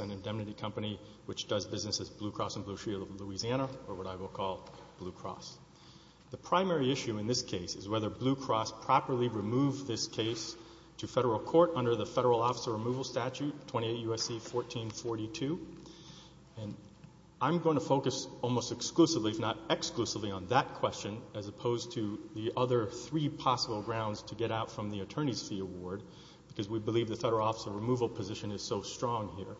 Indemnity Company, which does business as Blue Cross and Blue Shield of Louisiana, or what I will call Blue Cross. The primary issue in this case is whether Blue Cross properly removed this case to federal court under the Federal Officer Removal Statute 28 U.S.C. 1442, and I'm going to focus almost exclusively, if not exclusively, on that question as opposed to the other three possible grounds to get out from the Attorney's Fee Award, because we believe the Federal Officer Removal position is so strong here.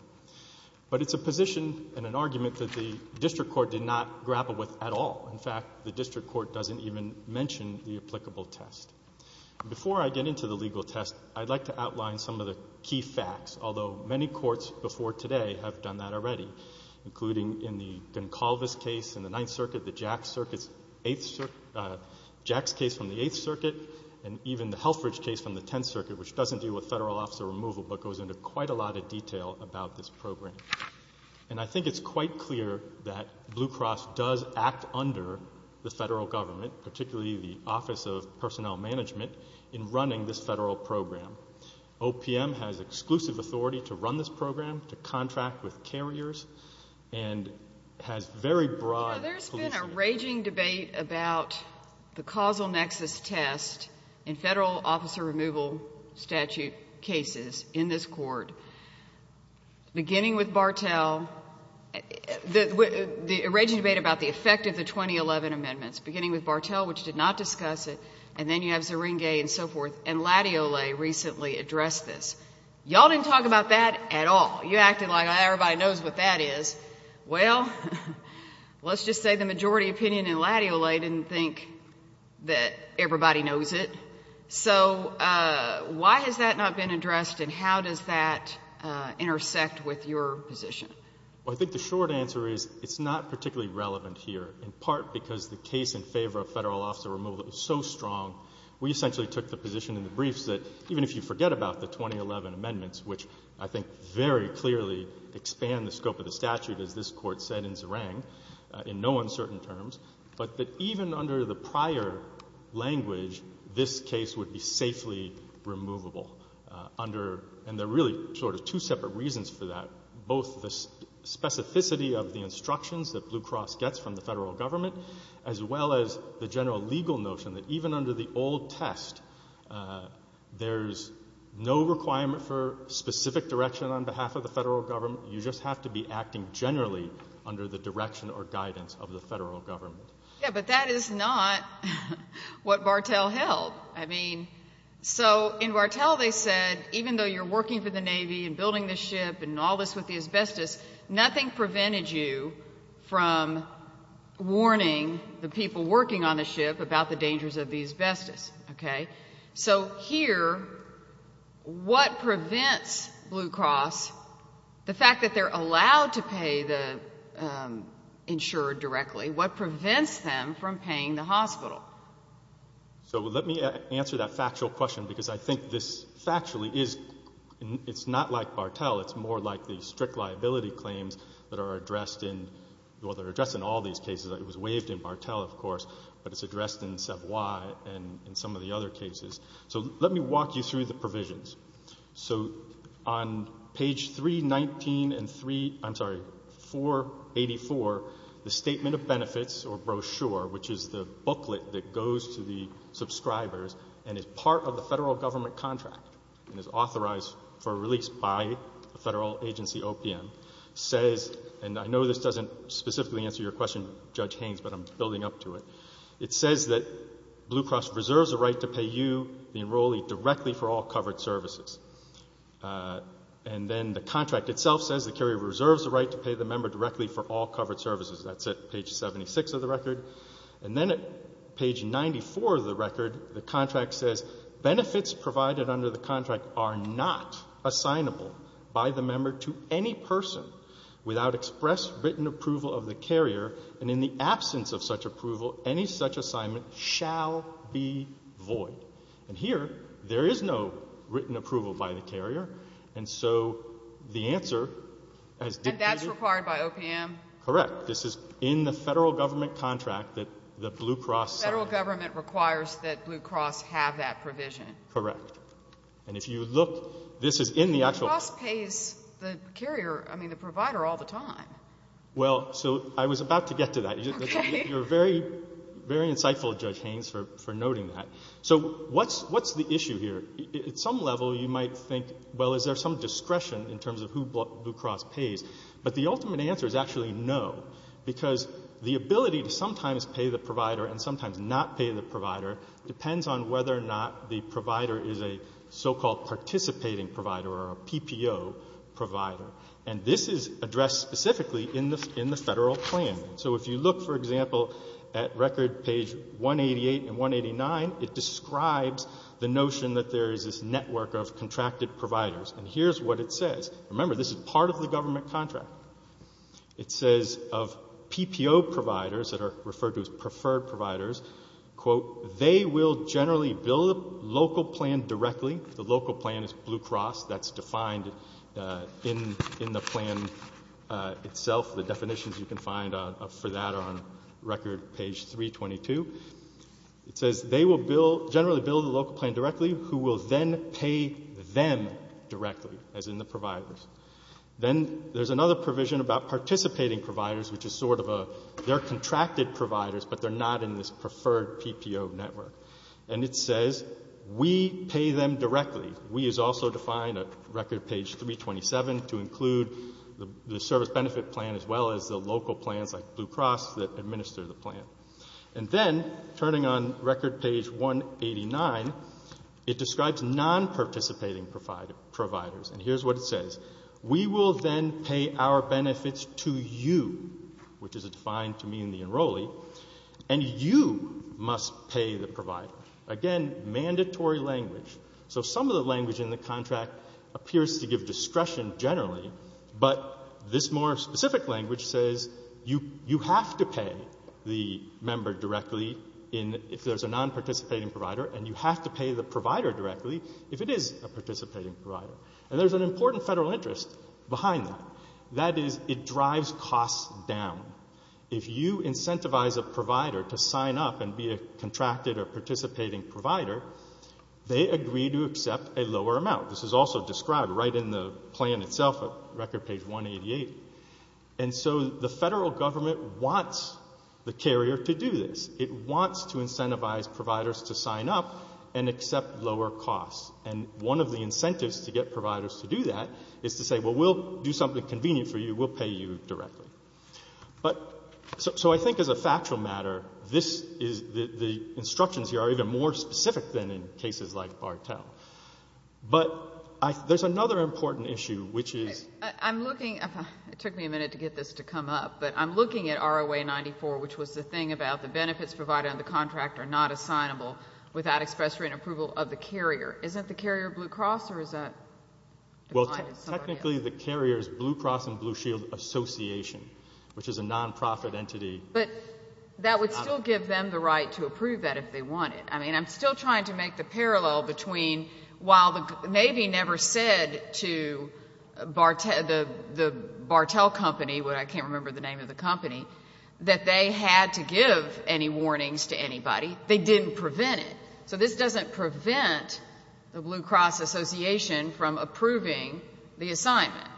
But it's a position and an argument that the district court did not grapple with at all. In fact, the district court doesn't even mention the applicable test. Before I get into the legal test, I'd like to outline some of the key facts, although many courts before today have done that already, including in the Goncalves case in the Ninth Circuit, the Jacks case from the Eighth Circuit, and even the Helfrich case from the Tenth Circuit, which doesn't deal with federal officer removal but goes into quite a lot of detail about this program. And I think it's quite clear that Blue Cross does act under the federal government, particularly the Office of Personnel Management, in running this federal program. OPM has exclusive authority to run this program, to contract with carriers, and has very broad policy. You know, there's been a raging debate about the causal nexus test in Federal Officer Removal statute cases in this Court, beginning with Bartel, the raging debate about the effect of the 2011 amendments, beginning with Bartel, which did not discuss it, and then you have Zeringue and so forth, and Latiole recently addressed this. Y'all didn't talk about that at all. You acted like everybody knows what that is. Well, let's just say the majority opinion in Latiole didn't think that everybody knows it. So why has that not been addressed and how does that intersect with your position? Well, I think the short answer is it's not particularly relevant here, in part because the case in favor of Federal Officer Removal is so strong, we essentially took the position in the briefs that even if you forget about the 2011 amendments, which I think very clearly expand the scope of the statute, as this Court said in Zerang, in no uncertain terms, but that even under the prior language, this case would be safely removable under — and there are really sort of two separate reasons for that, both the specificity of the instructions that Blue Cross gets from the Federal Government, as well as the general legal notion that even under the old test, there's no requirement for specific direction on behalf of the Federal Government. You just have to be acting generally under the direction or guidance of the Federal Government. Yeah, but that is not what Bartel held. I mean, so in Bartel they said even though you're working for the Navy and building the ship and all this with the asbestos, nothing prevented you from warning the people working on the ship about the dangers of the asbestos. Okay? So here, what prevents Blue Cross, the fact that they're allowed to pay the insurer directly, what prevents them from paying the hospital? So let me answer that factual question, because I think this factually is — it's not like claims that are addressed in — well, they're addressed in all these cases. It was waived in Bartel, of course, but it's addressed in Savoy and in some of the other cases. So let me walk you through the provisions. So on page 319 and 3 — I'm sorry, 484, the Statement of Benefits, or brochure, which is the booklet that goes to the subscribers and is part of the Federal Government contract and is authorized for release by the Federal Agency OPM, says — and I know this doesn't specifically answer your question, Judge Haynes, but I'm building up to it — it says that Blue Cross reserves the right to pay you, the enrollee, directly for all covered services. And then the contract itself says the carrier reserves the right to pay the member directly for all covered services. That's at page 76 of the record. And then at page 94 of the record, the contract says benefits provided under the contract are not assignable by the member to any person without express written approval of the carrier, and in the absence of such approval, any such assignment shall be void. And here, there is no written approval by the carrier, and so the answer has — And that's required by OPM? Correct. This is in the Federal Government contract that the Blue Cross — The Federal Government requires that Blue Cross have that provision. Correct. And if you look, this is in the actual — Blue Cross pays the carrier — I mean, the provider all the time. Well, so I was about to get to that. Okay. You're very, very insightful, Judge Haynes, for noting that. So what's the issue here? At some level, you might think, well, is there some discretion in terms of who Blue Cross pays? But the ultimate answer is actually no, because the ability to sometimes pay the provider and sometimes not pay the provider depends on whether or not the provider is a so-called participating provider or a PPO provider. And this is addressed specifically in the Federal plan. So if you look, for example, at record page 188 and 189, it describes the notion that there is this network of contracted providers. And here's what it says. Remember, this is part of the Government contract. It says of PPO providers that are referred to as preferred providers, quote, they will generally bill the local plan directly. The local plan is Blue Cross. That's defined in the plan itself. The definitions you can find for that are on record page 322. It says they will bill — generally bill the local plan directly, who will then pay them directly, as in the providers. Then there's another provision about participating providers, which is sort of a — they're contracted providers, but they're not in this preferred PPO network. And it says we pay them directly. We is also defined at record page 327 to include the service benefit plan as well as the local plans like Blue Cross that administer the plan. And then, turning on record page 189, it describes non-participating providers. And here's what it says. We will then pay our benefits to you, which is defined to mean the enrollee, and you must pay the provider. Again, mandatory language. So some of the language in the contract appears to give discretion generally, but this more specific language says you have to pay the member directly in — if there's a non-participating provider, and you have to pay the provider directly if it is a participating provider. And there's an important federal interest behind that. That is, it drives costs down. If you incentivize a provider to sign up and be a contracted or participating provider, they agree to accept a lower amount. This is also described right in the plan itself at record page 188. And so the federal government wants the carrier to do this. It wants to incentivize providers to sign up and accept lower costs. And one of the incentives to get providers to do that is to say, well, we'll do something convenient for you. We'll pay you directly. But — so I think as a factual matter, this is — the instructions here are even more specific than in cases like Bartel. But I — there's another important issue, which is — I'm looking — it took me a minute to get this to come up, but I'm looking at ROA-94, which was the thing about the benefits provided on the contract are not assignable without express written approval of the carrier. Isn't the carrier Blue Cross, or is that — Well, technically, the carrier is Blue Cross and Blue Shield Association, which is a nonprofit entity — But that would still give them the right to approve that if they wanted. I mean, I'm still trying to make the parallel between — while the Navy never said to Bartel — the Bartel company — I can't remember the name of the company — that they had to give any warnings to anybody, they didn't prevent it. So this doesn't prevent the Blue Cross Association from approving the assignment,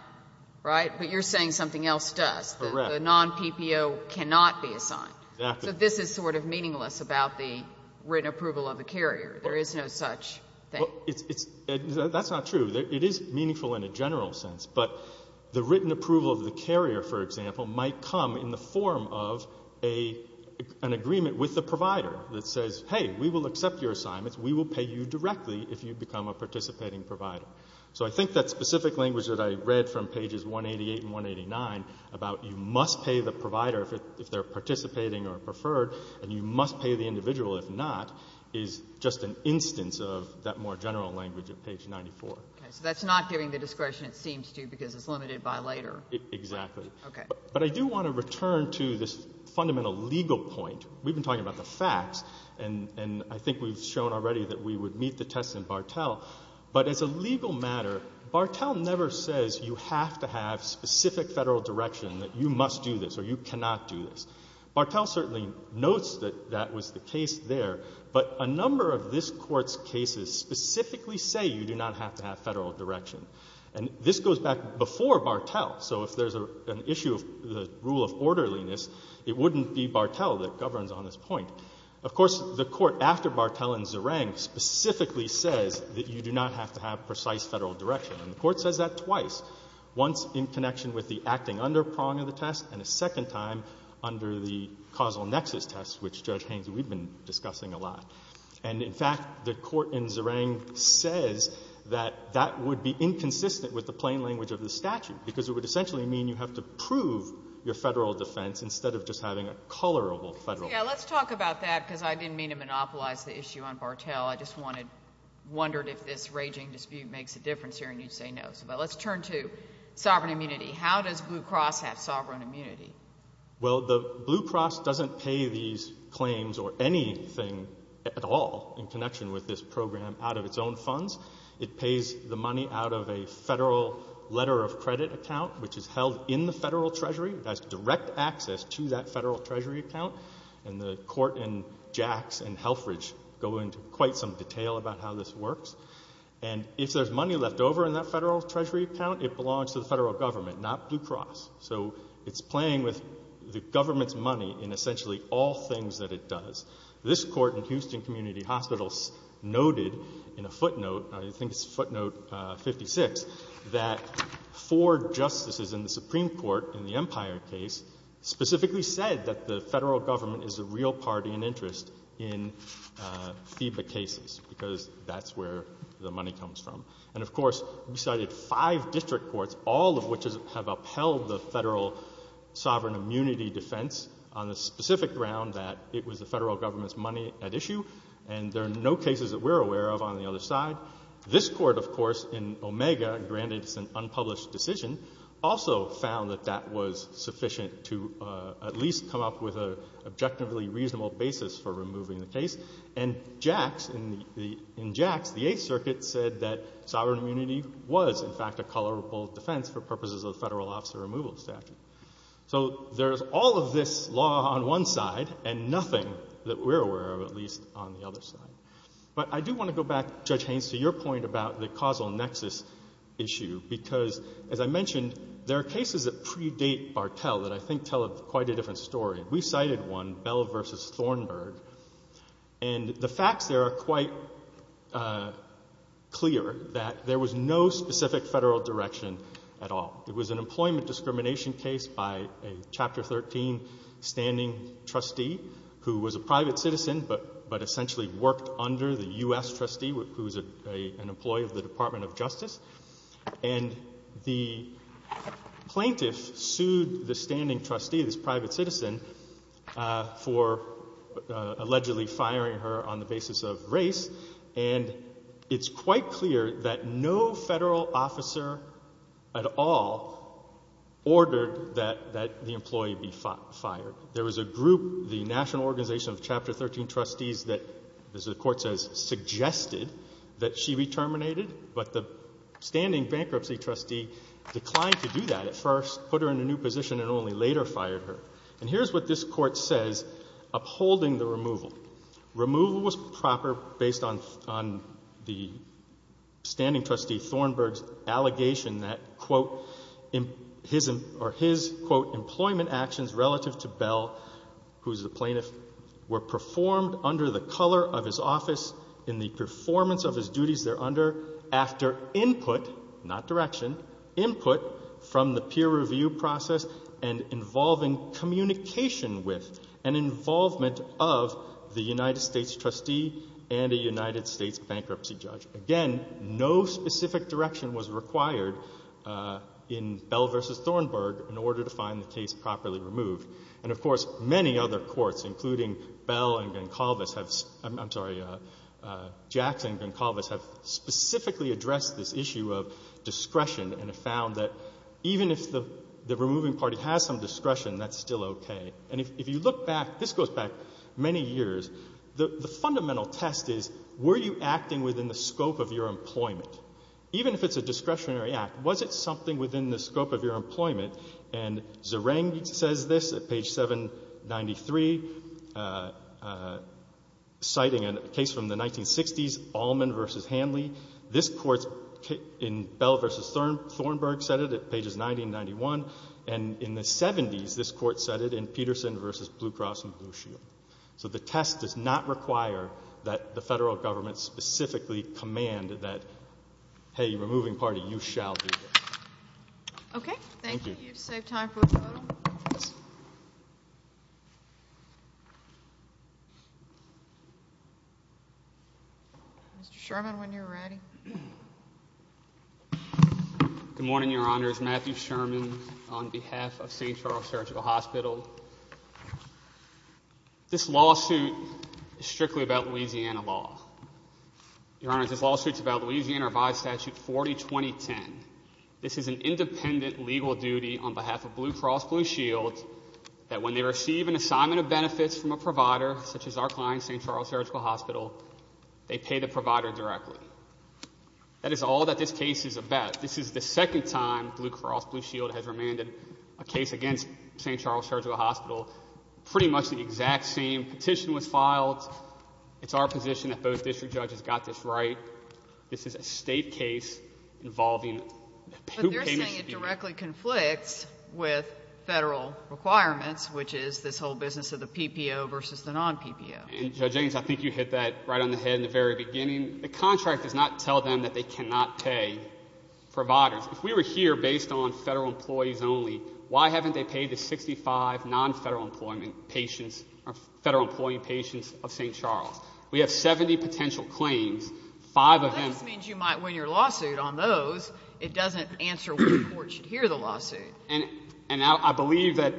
right? But you're saying something else does. Correct. The non-PPO cannot be assigned. Exactly. So this is sort of meaningless about the written approval of the carrier. There is no such thing. Well, it's — that's not true. It is meaningful in a general sense. But the written approval of the carrier, for example, might come in the form of an agreement with the provider that says, hey, we will accept your assignments, we will pay you directly if you become a participating provider. So I think that specific language that I read from pages 188 and 189 about you must pay the provider if they're participating or preferred, and you must pay the individual if not, is just an instance of that more general language of page 94. Okay. So that's not giving the discretion it seems to because it's limited by later. Exactly. Okay. But I do want to return to this fundamental legal point. We've been talking about the facts, and I think we've shown already that we would meet the tests in Bartel. But as a legal matter, Bartel never says you have to have specific Federal direction, that you must do this or you cannot do this. Bartel certainly notes that that was the case there. But a number of this Court's cases specifically say you do not have to have Federal direction. And this goes back before Bartel. So if there's an issue of the rule of orderliness, it wouldn't be Bartel that governs on this point. Of course, the Court after Bartel and Zerang specifically says that you do not have to have precise Federal direction. And the Court says that twice, once in connection with the acting underprong of the test and a second time under the causal nexus test, which, Judge Haynes, we've been discussing a lot. And, in fact, the Court in Zerang says that that would be inconsistent with the plain language of the statute because it would essentially mean you have to prove your Federal defense instead of just having a colorable Federal defense. Yeah. Let's talk about that because I didn't mean to monopolize the issue on Bartel. I just wanted to – wondered if this raging dispute makes a difference here, and you'd say no. But let's turn to sovereign immunity. How does Blue Cross have sovereign immunity? Well, the Blue Cross doesn't pay these claims or anything at all in connection with this program out of its own funds. It pays the money out of a Federal letter of credit account, which is held in the Federal Treasury. It has direct access to that Federal Treasury account. And the Court in Jacks and Halfridge go into quite some detail about how this works. And if there's money left over in that Federal Treasury account, it belongs to the Federal Government, not Blue Cross. So it's playing with the government's money in essentially all things that it does. This Court in Houston Community Hospitals noted in a footnote, I think it's footnote 56, that four justices in the Supreme Court in the Empire case specifically said that the Federal Government is a real party and interest in FIBA cases because that's where the money comes from. And, of course, we cited five district courts, all of which have upheld the Federal sovereign immunity defense on the specific ground that it was the Federal Government's money at issue, and there are no cases that we're aware of on the other side. This Court, of course, in Omega, granted it's an unpublished decision, also found that that was sufficient to at least come up with an objectively reasonable basis for removing the case. And Jacks, in the — in Jacks, the Eighth Circuit said that sovereign immunity was, in fact, a colorable defense for purposes of the Federal Officer Removal Statute. So there's all of this law on one side and nothing that we're aware of, at least on the other side. But I do want to go back, Judge Haynes, to your point about the causal nexus issue, because, as I mentioned, there are cases that predate Bartel that I think tell quite a different story. We cited one, Bell v. Thornburg, and the facts there are quite clear that there was no specific Federal direction at all. It was an employment discrimination case by a Chapter 13 standing trustee who was a private citizen but essentially worked under the U.S. trustee, who was an employee of the Department of Justice. And the plaintiff sued the standing trustee, this private citizen, for allegedly firing her on the basis of race. And it's quite clear that no Federal officer at all ordered that the employee be fired. There was a group, the National Organization of Chapter 13 Trustees, that, as the Court says, suggested that she be terminated. But the standing bankruptcy trustee declined to do that at first, put her in a new position, and only later fired her. And here's what this Court says upholding the removal. Removal was proper based on the standing trustee Thornburg's allegation that, quote, or his, quote, employment actions relative to Bell, who is the plaintiff, were performed under the color of his office in the performance of his duties thereunder after input, not direction, input from the peer review process and involving communication with and involvement of the United States trustee and a United States bankruptcy judge. Again, no specific direction was required in Bell v. Thornburg in order to find the case properly removed. And, of course, many other courts, including Bell and Goncalves have — I'm sorry, Jackson and Goncalves have specifically addressed this issue of discretion and have found that even if the removing party has some discretion, that's still okay. And if you look back, this goes back many years, the fundamental test is, were you acting within the scope of your employment? Even if it's a discretionary act, was it something within the scope of your employment? And Zereng says this at page 793, citing a case from the 1960s, Allman v. Hanley. This court in Bell v. Thornburg said it at pages 90 and 91. And in the 70s, this court said it in Peterson v. Blue Cross and Blue Shield. So the test does not require that the Federal Government specifically command that, hey, removing party, you shall do this. Okay. Thank you. Thank you. You've saved time for a photo. Mr. Sherman, when you're ready. Good morning, Your Honors. Matthew Sherman on behalf of St. Charles Surgical Hospital. This lawsuit is strictly about Louisiana law. Your Honors, this lawsuit is about Louisiana revised statute 402010. This is an independent legal duty on behalf of Blue Cross Blue Shield that when they receive an assignment of benefits from a provider, such as our client, St. Charles Surgical Hospital, they pay the provider directly. That is all that this case is about. This is the second time Blue Cross Blue Shield has remanded a case against St. Charles Surgical Hospital. Pretty much the exact same petition was filed. It's our position that both district and state case involving who pays the fee. But they're saying it directly conflicts with Federal requirements, which is this whole business of the PPO versus the non-PPO. And, Judge Haines, I think you hit that right on the head in the very beginning. The contract does not tell them that they cannot pay providers. If we were here based on Federal employees only, why haven't they paid the 65 non-Federal employment patients or Federal employee patients of St. Charles? We have 70 potential claims. Five of them — That just means you might win your lawsuit on those. It doesn't answer which court should hear the lawsuit. And I believe that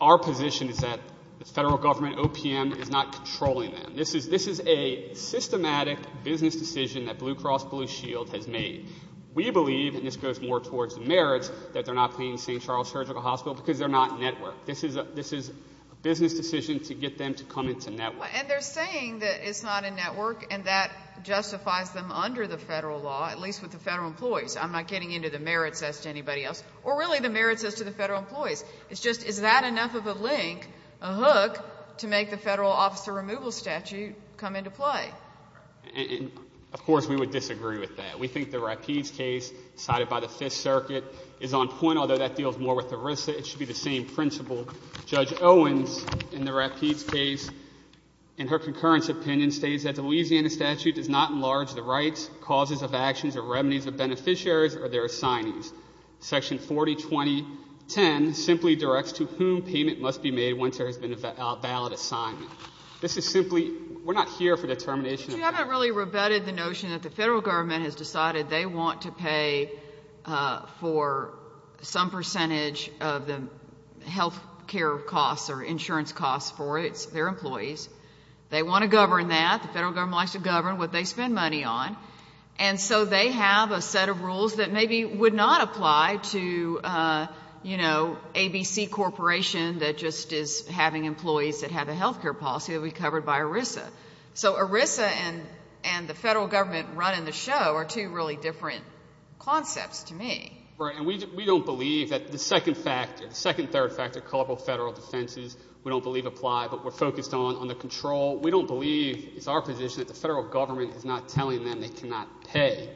our position is that the Federal Government, OPM, is not controlling them. This is a systematic business decision that Blue Cross Blue Shield has made. We believe, and this goes more towards the merits, that they're not paying St. Charles Surgical Hospital because they're not networked. This is a business decision to get them to come into network. And they're saying that it's not a network and that justifies them under the Federal law, at least with the Federal employees. I'm not getting into the merits as to anybody else, or really the merits as to the Federal employees. It's just, is that enough of a link, a hook, to make the Federal officer removal statute come into play? And, of course, we would disagree with that. We think the Rapides case cited by the Fifth Circuit is on point, although that deals more with ERISA. It should be the same principle. Judge Owens, in the Rapides case, in her concurrence opinion, states that the Louisiana statute does not enlarge the rights, causes of actions, or remedies of beneficiaries or their assignees. Section 402010 simply directs to whom payment must be made once there has been a valid assignment. This is simply, we're not here for determination of payment. But you haven't really rebutted the notion that the Federal Government has decided they percentage of the health care costs or insurance costs for its, their employees. They want to govern that. The Federal Government likes to govern what they spend money on. And so they have a set of rules that maybe would not apply to, you know, ABC Corporation that just is having employees that have a health care policy that would be covered by ERISA. So ERISA and the Federal Government running the show are two really different concepts to me. Right. And we don't believe that the second factor, the second third factor, corporal Federal defenses, we don't believe apply, but we're focused on the control. We don't believe, it's our position, that the Federal Government is not telling them they cannot pay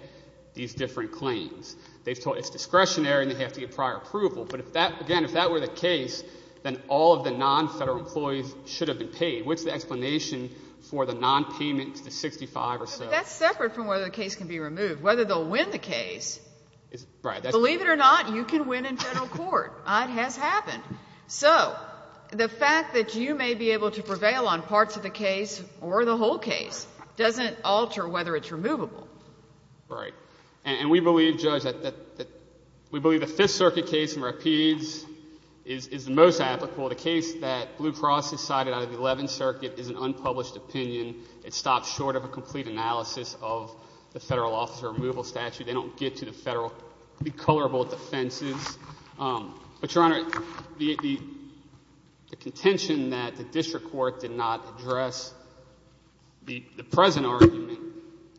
these different claims. They've told us it's discretionary and they have to get prior approval. But if that, again, if that were the case, then all of the non-Federal employees should have been paid. What's the explanation for the non-payments, the 65 or so? But that's separate from whether the case can be removed, whether they'll win the case. Right. Believe it or not, you can win in general court. It has happened. So the fact that you may be able to prevail on parts of the case or the whole case doesn't alter whether it's removable. Right. And we believe, Judge, that we believe the Fifth Circuit case in Rapides is the most applicable. The case that Blue Cross decided out of the Eleventh Circuit is an unpublished opinion. It stops short of a complete analysis of the Federal officer removal statute. They don't get to the Federal recolorable defenses. But, Your Honor, the contention that the district court did not address the present argument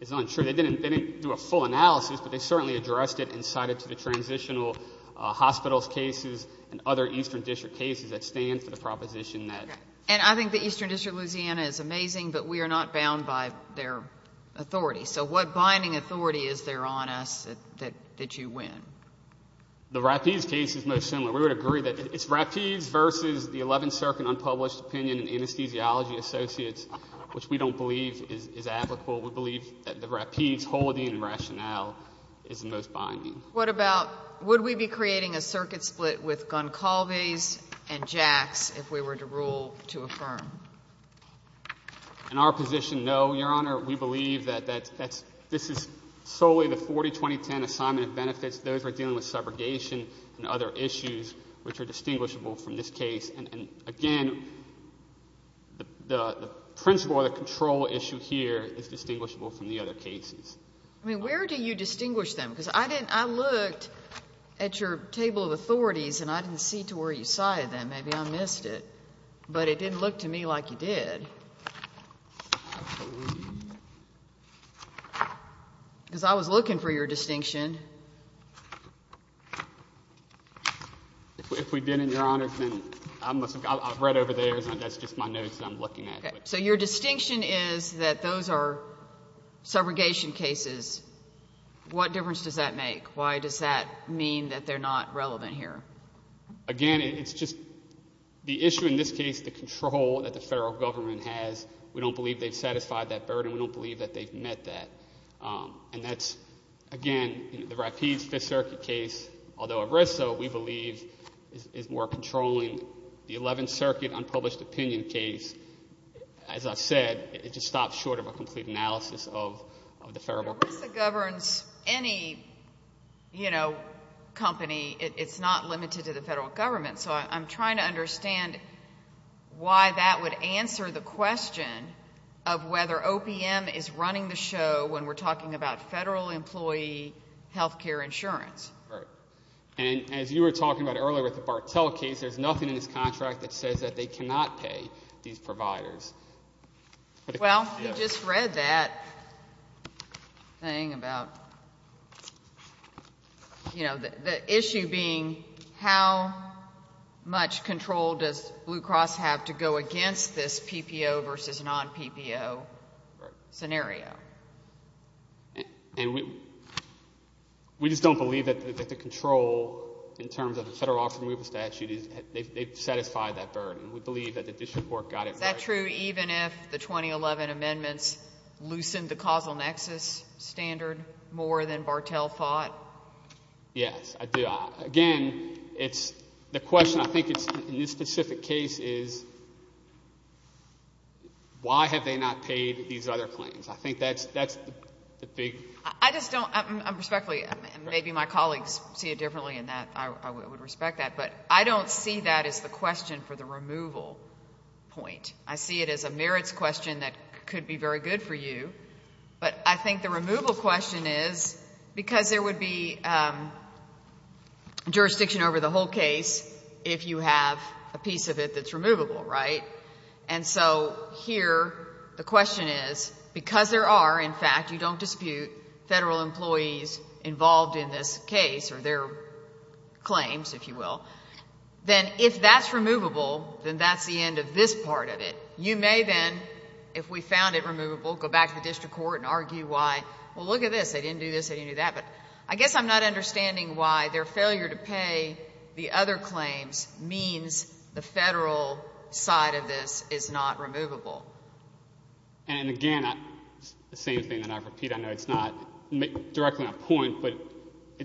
is untrue. They didn't do a full analysis, but they certainly addressed it and cited it to the transitional hospitals cases and other Eastern District cases that stand for the proposition that ---- And I think the Eastern District of Louisiana is amazing, but we are not bound by their binding authority. Is there on us that you win? The Rapides case is most similar. We would agree that it's Rapides versus the Eleventh Circuit unpublished opinion and anesthesiology associates, which we don't believe is applicable. We believe that the Rapides whole of the rationale is the most binding. What about would we be creating a circuit split with Goncalves and Jax if we were to rule to affirm? In our position, no, Your Honor. We believe that this is solely the 402010 assignment of benefits. Those are dealing with subrogation and other issues which are distinguishable from this case. And, again, the principle or the control issue here is distinguishable from the other cases. I mean, where do you distinguish them? Because I didn't ---- I looked at your table of authorities and I didn't see to where you cited them. Maybe I missed it. But it didn't look to me like you did. Absolutely. Because I was looking for your distinction. If we didn't, Your Honor, then I must have got ---- I read over there. That's just my notes that I'm looking at. Okay. So your distinction is that those are subrogation cases. What difference does that make? Why does that mean that they're not relevant here? Again, it's just the issue in this case, the control that the Federal Government has, we don't believe they've satisfied that burden. We don't believe that they've met that. And that's, again, the Rapides Fifth Circuit case, although ERISA, we believe, is more controlling. The Eleventh Circuit unpublished opinion case, as I've said, it just stops short of a complete analysis of the Federal Government. Well, ERISA governs any, you know, company. It's not limited to the Federal Government. So I'm trying to understand why that would answer the question of whether OPM is running the show when we're talking about Federal employee health care insurance. Right. And as you were talking about earlier with the Bartell case, there's nothing in this contract that says that they cannot pay these providers. Well, we just read that thing about, you know, the issue being how much control does Blue Cross have to go against this PPO versus non-PPO scenario. And we just don't believe that the control in terms of the Federal Office of Removal Statute, they've satisfied that burden. We believe that the district court got it right. Is that true even if the 2011 amendments loosened the causal nexus standard more than Bartell thought? Yes, I do. Again, it's the question, I think, in this specific case is why have they not paid these other claims? I think that's the big... I just don't, respectfully, and maybe my colleagues see it differently in that, I would respect that, but I don't see that as the question for the removal point. I see it as a merits question that could be very good for you, but I think the removal question is because there would be jurisdiction over the whole case if you have a piece of it that's removable, right? And so here the question is, because there are, in fact, you don't dispute, Federal employees involved in this case or their claims, if you will, then if that's removable, then that's the end of this part of it. You may then, if we found it removable, go back to the district court and argue why, well, look at this, they didn't do this, they didn't do that, but I guess I'm not understanding why their failure to pay the other claims means the Federal side of this is not removable. And again, the same thing that I repeat, I know it's not directly on point, but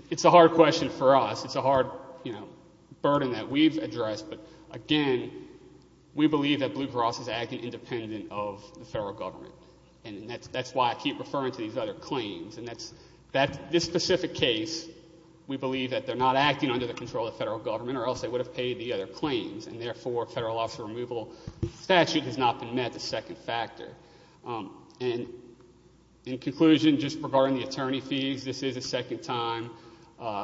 it's a hard question for us, it's a hard burden that we've addressed, but again, we believe that Blue Cross is acting independent of the Federal Government, and that's why I keep referring to these other claims, and that's, this specific case, we believe that they're not acting under the control of the Federal Government or else they would have paid the other claims, and therefore a Federal Office of Removal statute has not been met, the second factor. And in conclusion, just regarding the attorney fees, this is the second time,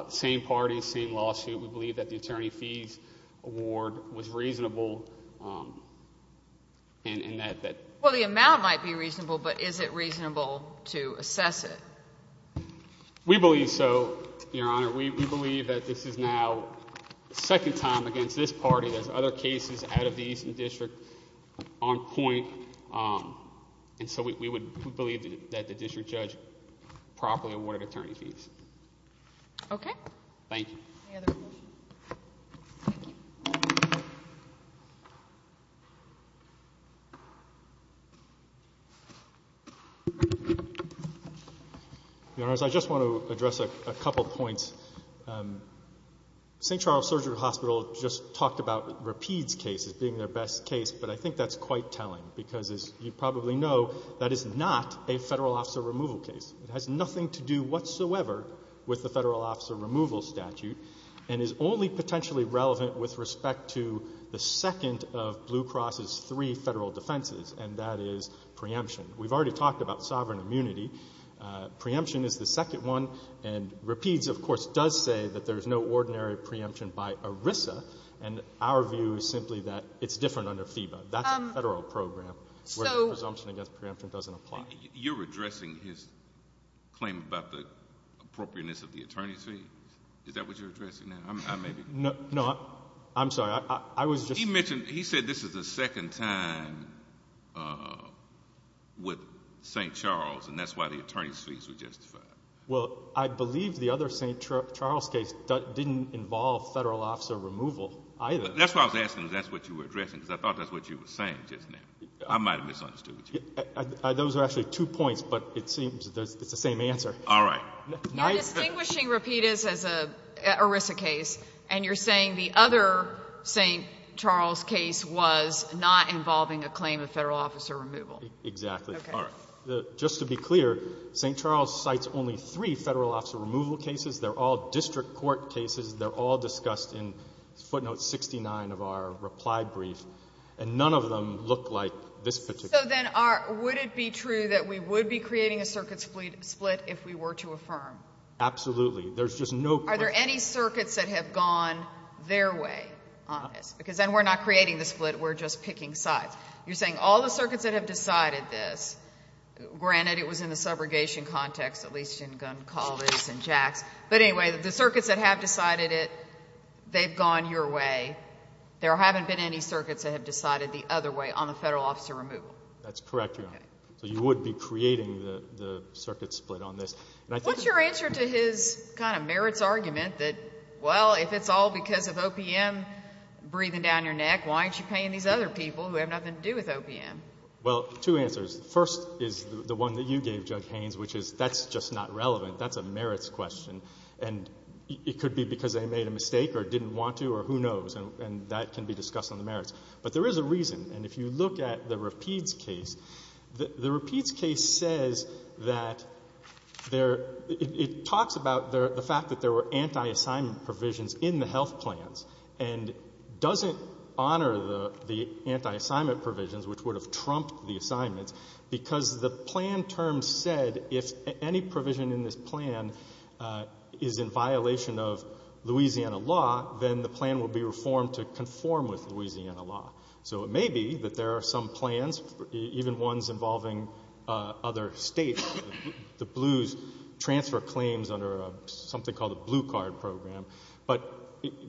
same party, same lawsuit, we believe that the attorney fees award was reasonable, and that that... Well, the amount might be reasonable, but is it reasonable to assess it? We believe so, Your Honor. We believe that this is now the second time against this party, there's other cases out of the Eastern District on point, and so we believe that the district judge properly awarded attorney fees. Okay. Any other questions? Thank you. Your Honors, I just want to address a couple points. St. Charles Surgery Hospital just talked about Rapide's case as being their best case, but I think that's quite telling, because as you probably know, that is not a Federal Office of Removal case. It has nothing to do whatsoever with the Federal Office of Removal statute, and is only potentially relevant with respect to the second of Blue Cross's three Federal defenses, and that is talking about sovereign immunity. Preemption is the second one, and Rapide's, of course, does say that there's no ordinary preemption by ERISA, and our view is simply that it's different under FEBA. That's a Federal program, where the presumption against preemption doesn't apply. You're addressing his claim about the appropriateness of the attorney fees? Is that what you're addressing now? I may be... No, I'm sorry. I was just... He mentioned, he said this is the second time with St. Charles, and that's why the attorney fees were justified. Well, I believe the other St. Charles case didn't involve Federal Office of Removal, either. That's why I was asking if that's what you were addressing, because I thought that's what you were saying just now. I might have misunderstood you. Those are actually two points, but it seems it's the same answer. All right. You're distinguishing Rapide's as an ERISA case, and you're saying the other St. Charles case was not involving a claim of Federal Office of Removal. Exactly. Okay. Just to be clear, St. Charles cites only three Federal Office of Removal cases. They're all district court cases. They're all discussed in footnote 69 of our reply brief, and none of them look like this particular... So then would it be true that we would be creating a circuit split if we were to affirm? Absolutely. There's just no question. Are there any circuits that have gone their way on this? Because then we're not creating the split. We're just picking sides. You're saying all the circuits that have decided this, granted it was in the subrogation context, at least in Gunn College and Jax, but anyway, the circuits that have decided it, they've gone your way. There haven't been any circuits that have decided the other way on the Federal Office of Removal. That's correct, Your Honor. So you would be creating the circuit split on this. What's your answer to his kind of merits argument that, well, if it's all because of OPM breathing down your neck, why aren't you paying these other people who have nothing to do with OPM? Well, two answers. The first is the one that you gave, Judge Haynes, which is that's just not relevant. That's a merits question, and it could be because they made a mistake or didn't want to or who knows, and that can be discussed on the merits. But there is a reason. And if you look at the Rapides case, the Rapides case says that there – it talks about the fact that there were anti-assignment provisions in the health plans and doesn't honor the anti-assignment provisions, which would have trumped the assignments, because the plan terms said if any provision in this plan is in violation of Louisiana law, then the plan will be reformed to conform with Louisiana law. So it may be that there are some plans, even ones involving other states, the blues, transfer claims under something called a blue card program. But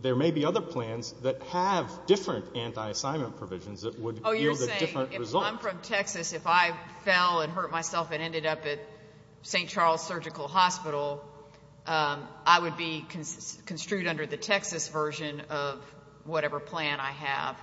there may be other plans that have different anti-assignment provisions that would yield a different result. Well, I'm from Texas. If I fell and hurt myself and ended up at St. Charles Surgical Hospital, I would be construed under the Texas version of whatever plan I have.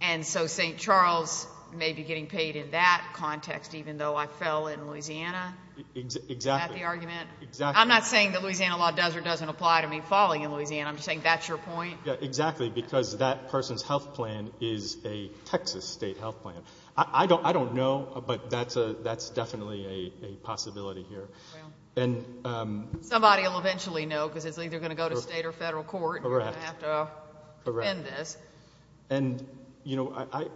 And so St. Charles may be getting paid in that context, even though I fell in Louisiana? Exactly. Is that the argument? Exactly. I'm not saying that Louisiana law does or doesn't apply to me falling in Louisiana. I'm just saying that's your point. Exactly. Because that person's health plan is a Texas state health plan. I don't know, but that's definitely a possibility here. Somebody will eventually know because it's either going to go to state or federal court and you're going to have to defend this. Correct. And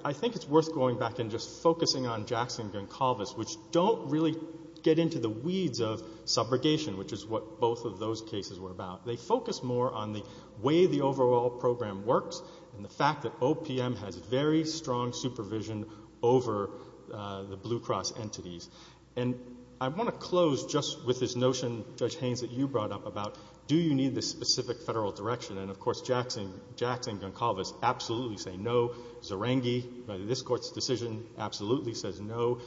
I think it's worth going back and just focusing on Jackson and Goncalves, which don't really get into the weeds of subrogation, which is what both of those cases were about. They focus more on the way the overall program works and the fact that OPM has very strong supervision over the Blue Cross entities. And I want to close just with this notion, Judge Haynes, that you brought up about do you need this specific federal direction? And, of course, Jackson and Goncalves absolutely say no. Zerengi, by this Court's decision, absolutely says no.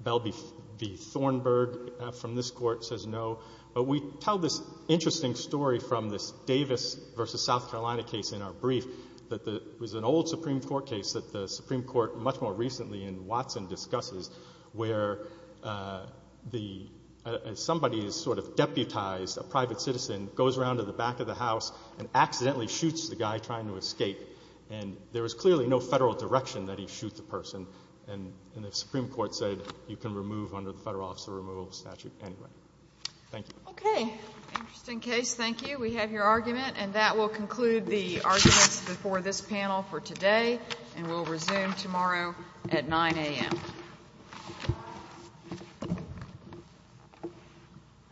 Bell v. Thornburg from this Court says no. But we tell this interesting story from this Davis v. South Carolina case in our brief that it was an old Supreme Court case that the Supreme Court much more recently in Watson discusses where somebody is sort of deputized, a private citizen, goes around to the back of the house and accidentally shoots the guy trying to escape. And there was clearly no federal direction that he shoot the person, and the Supreme Court said you can remove under the Federal Office of Removal of Statute anyway. Thank you. Okay. Interesting case. Thank you. We have your argument. And that will conclude the arguments before this panel for today, and we'll resume tomorrow at 9 a.m.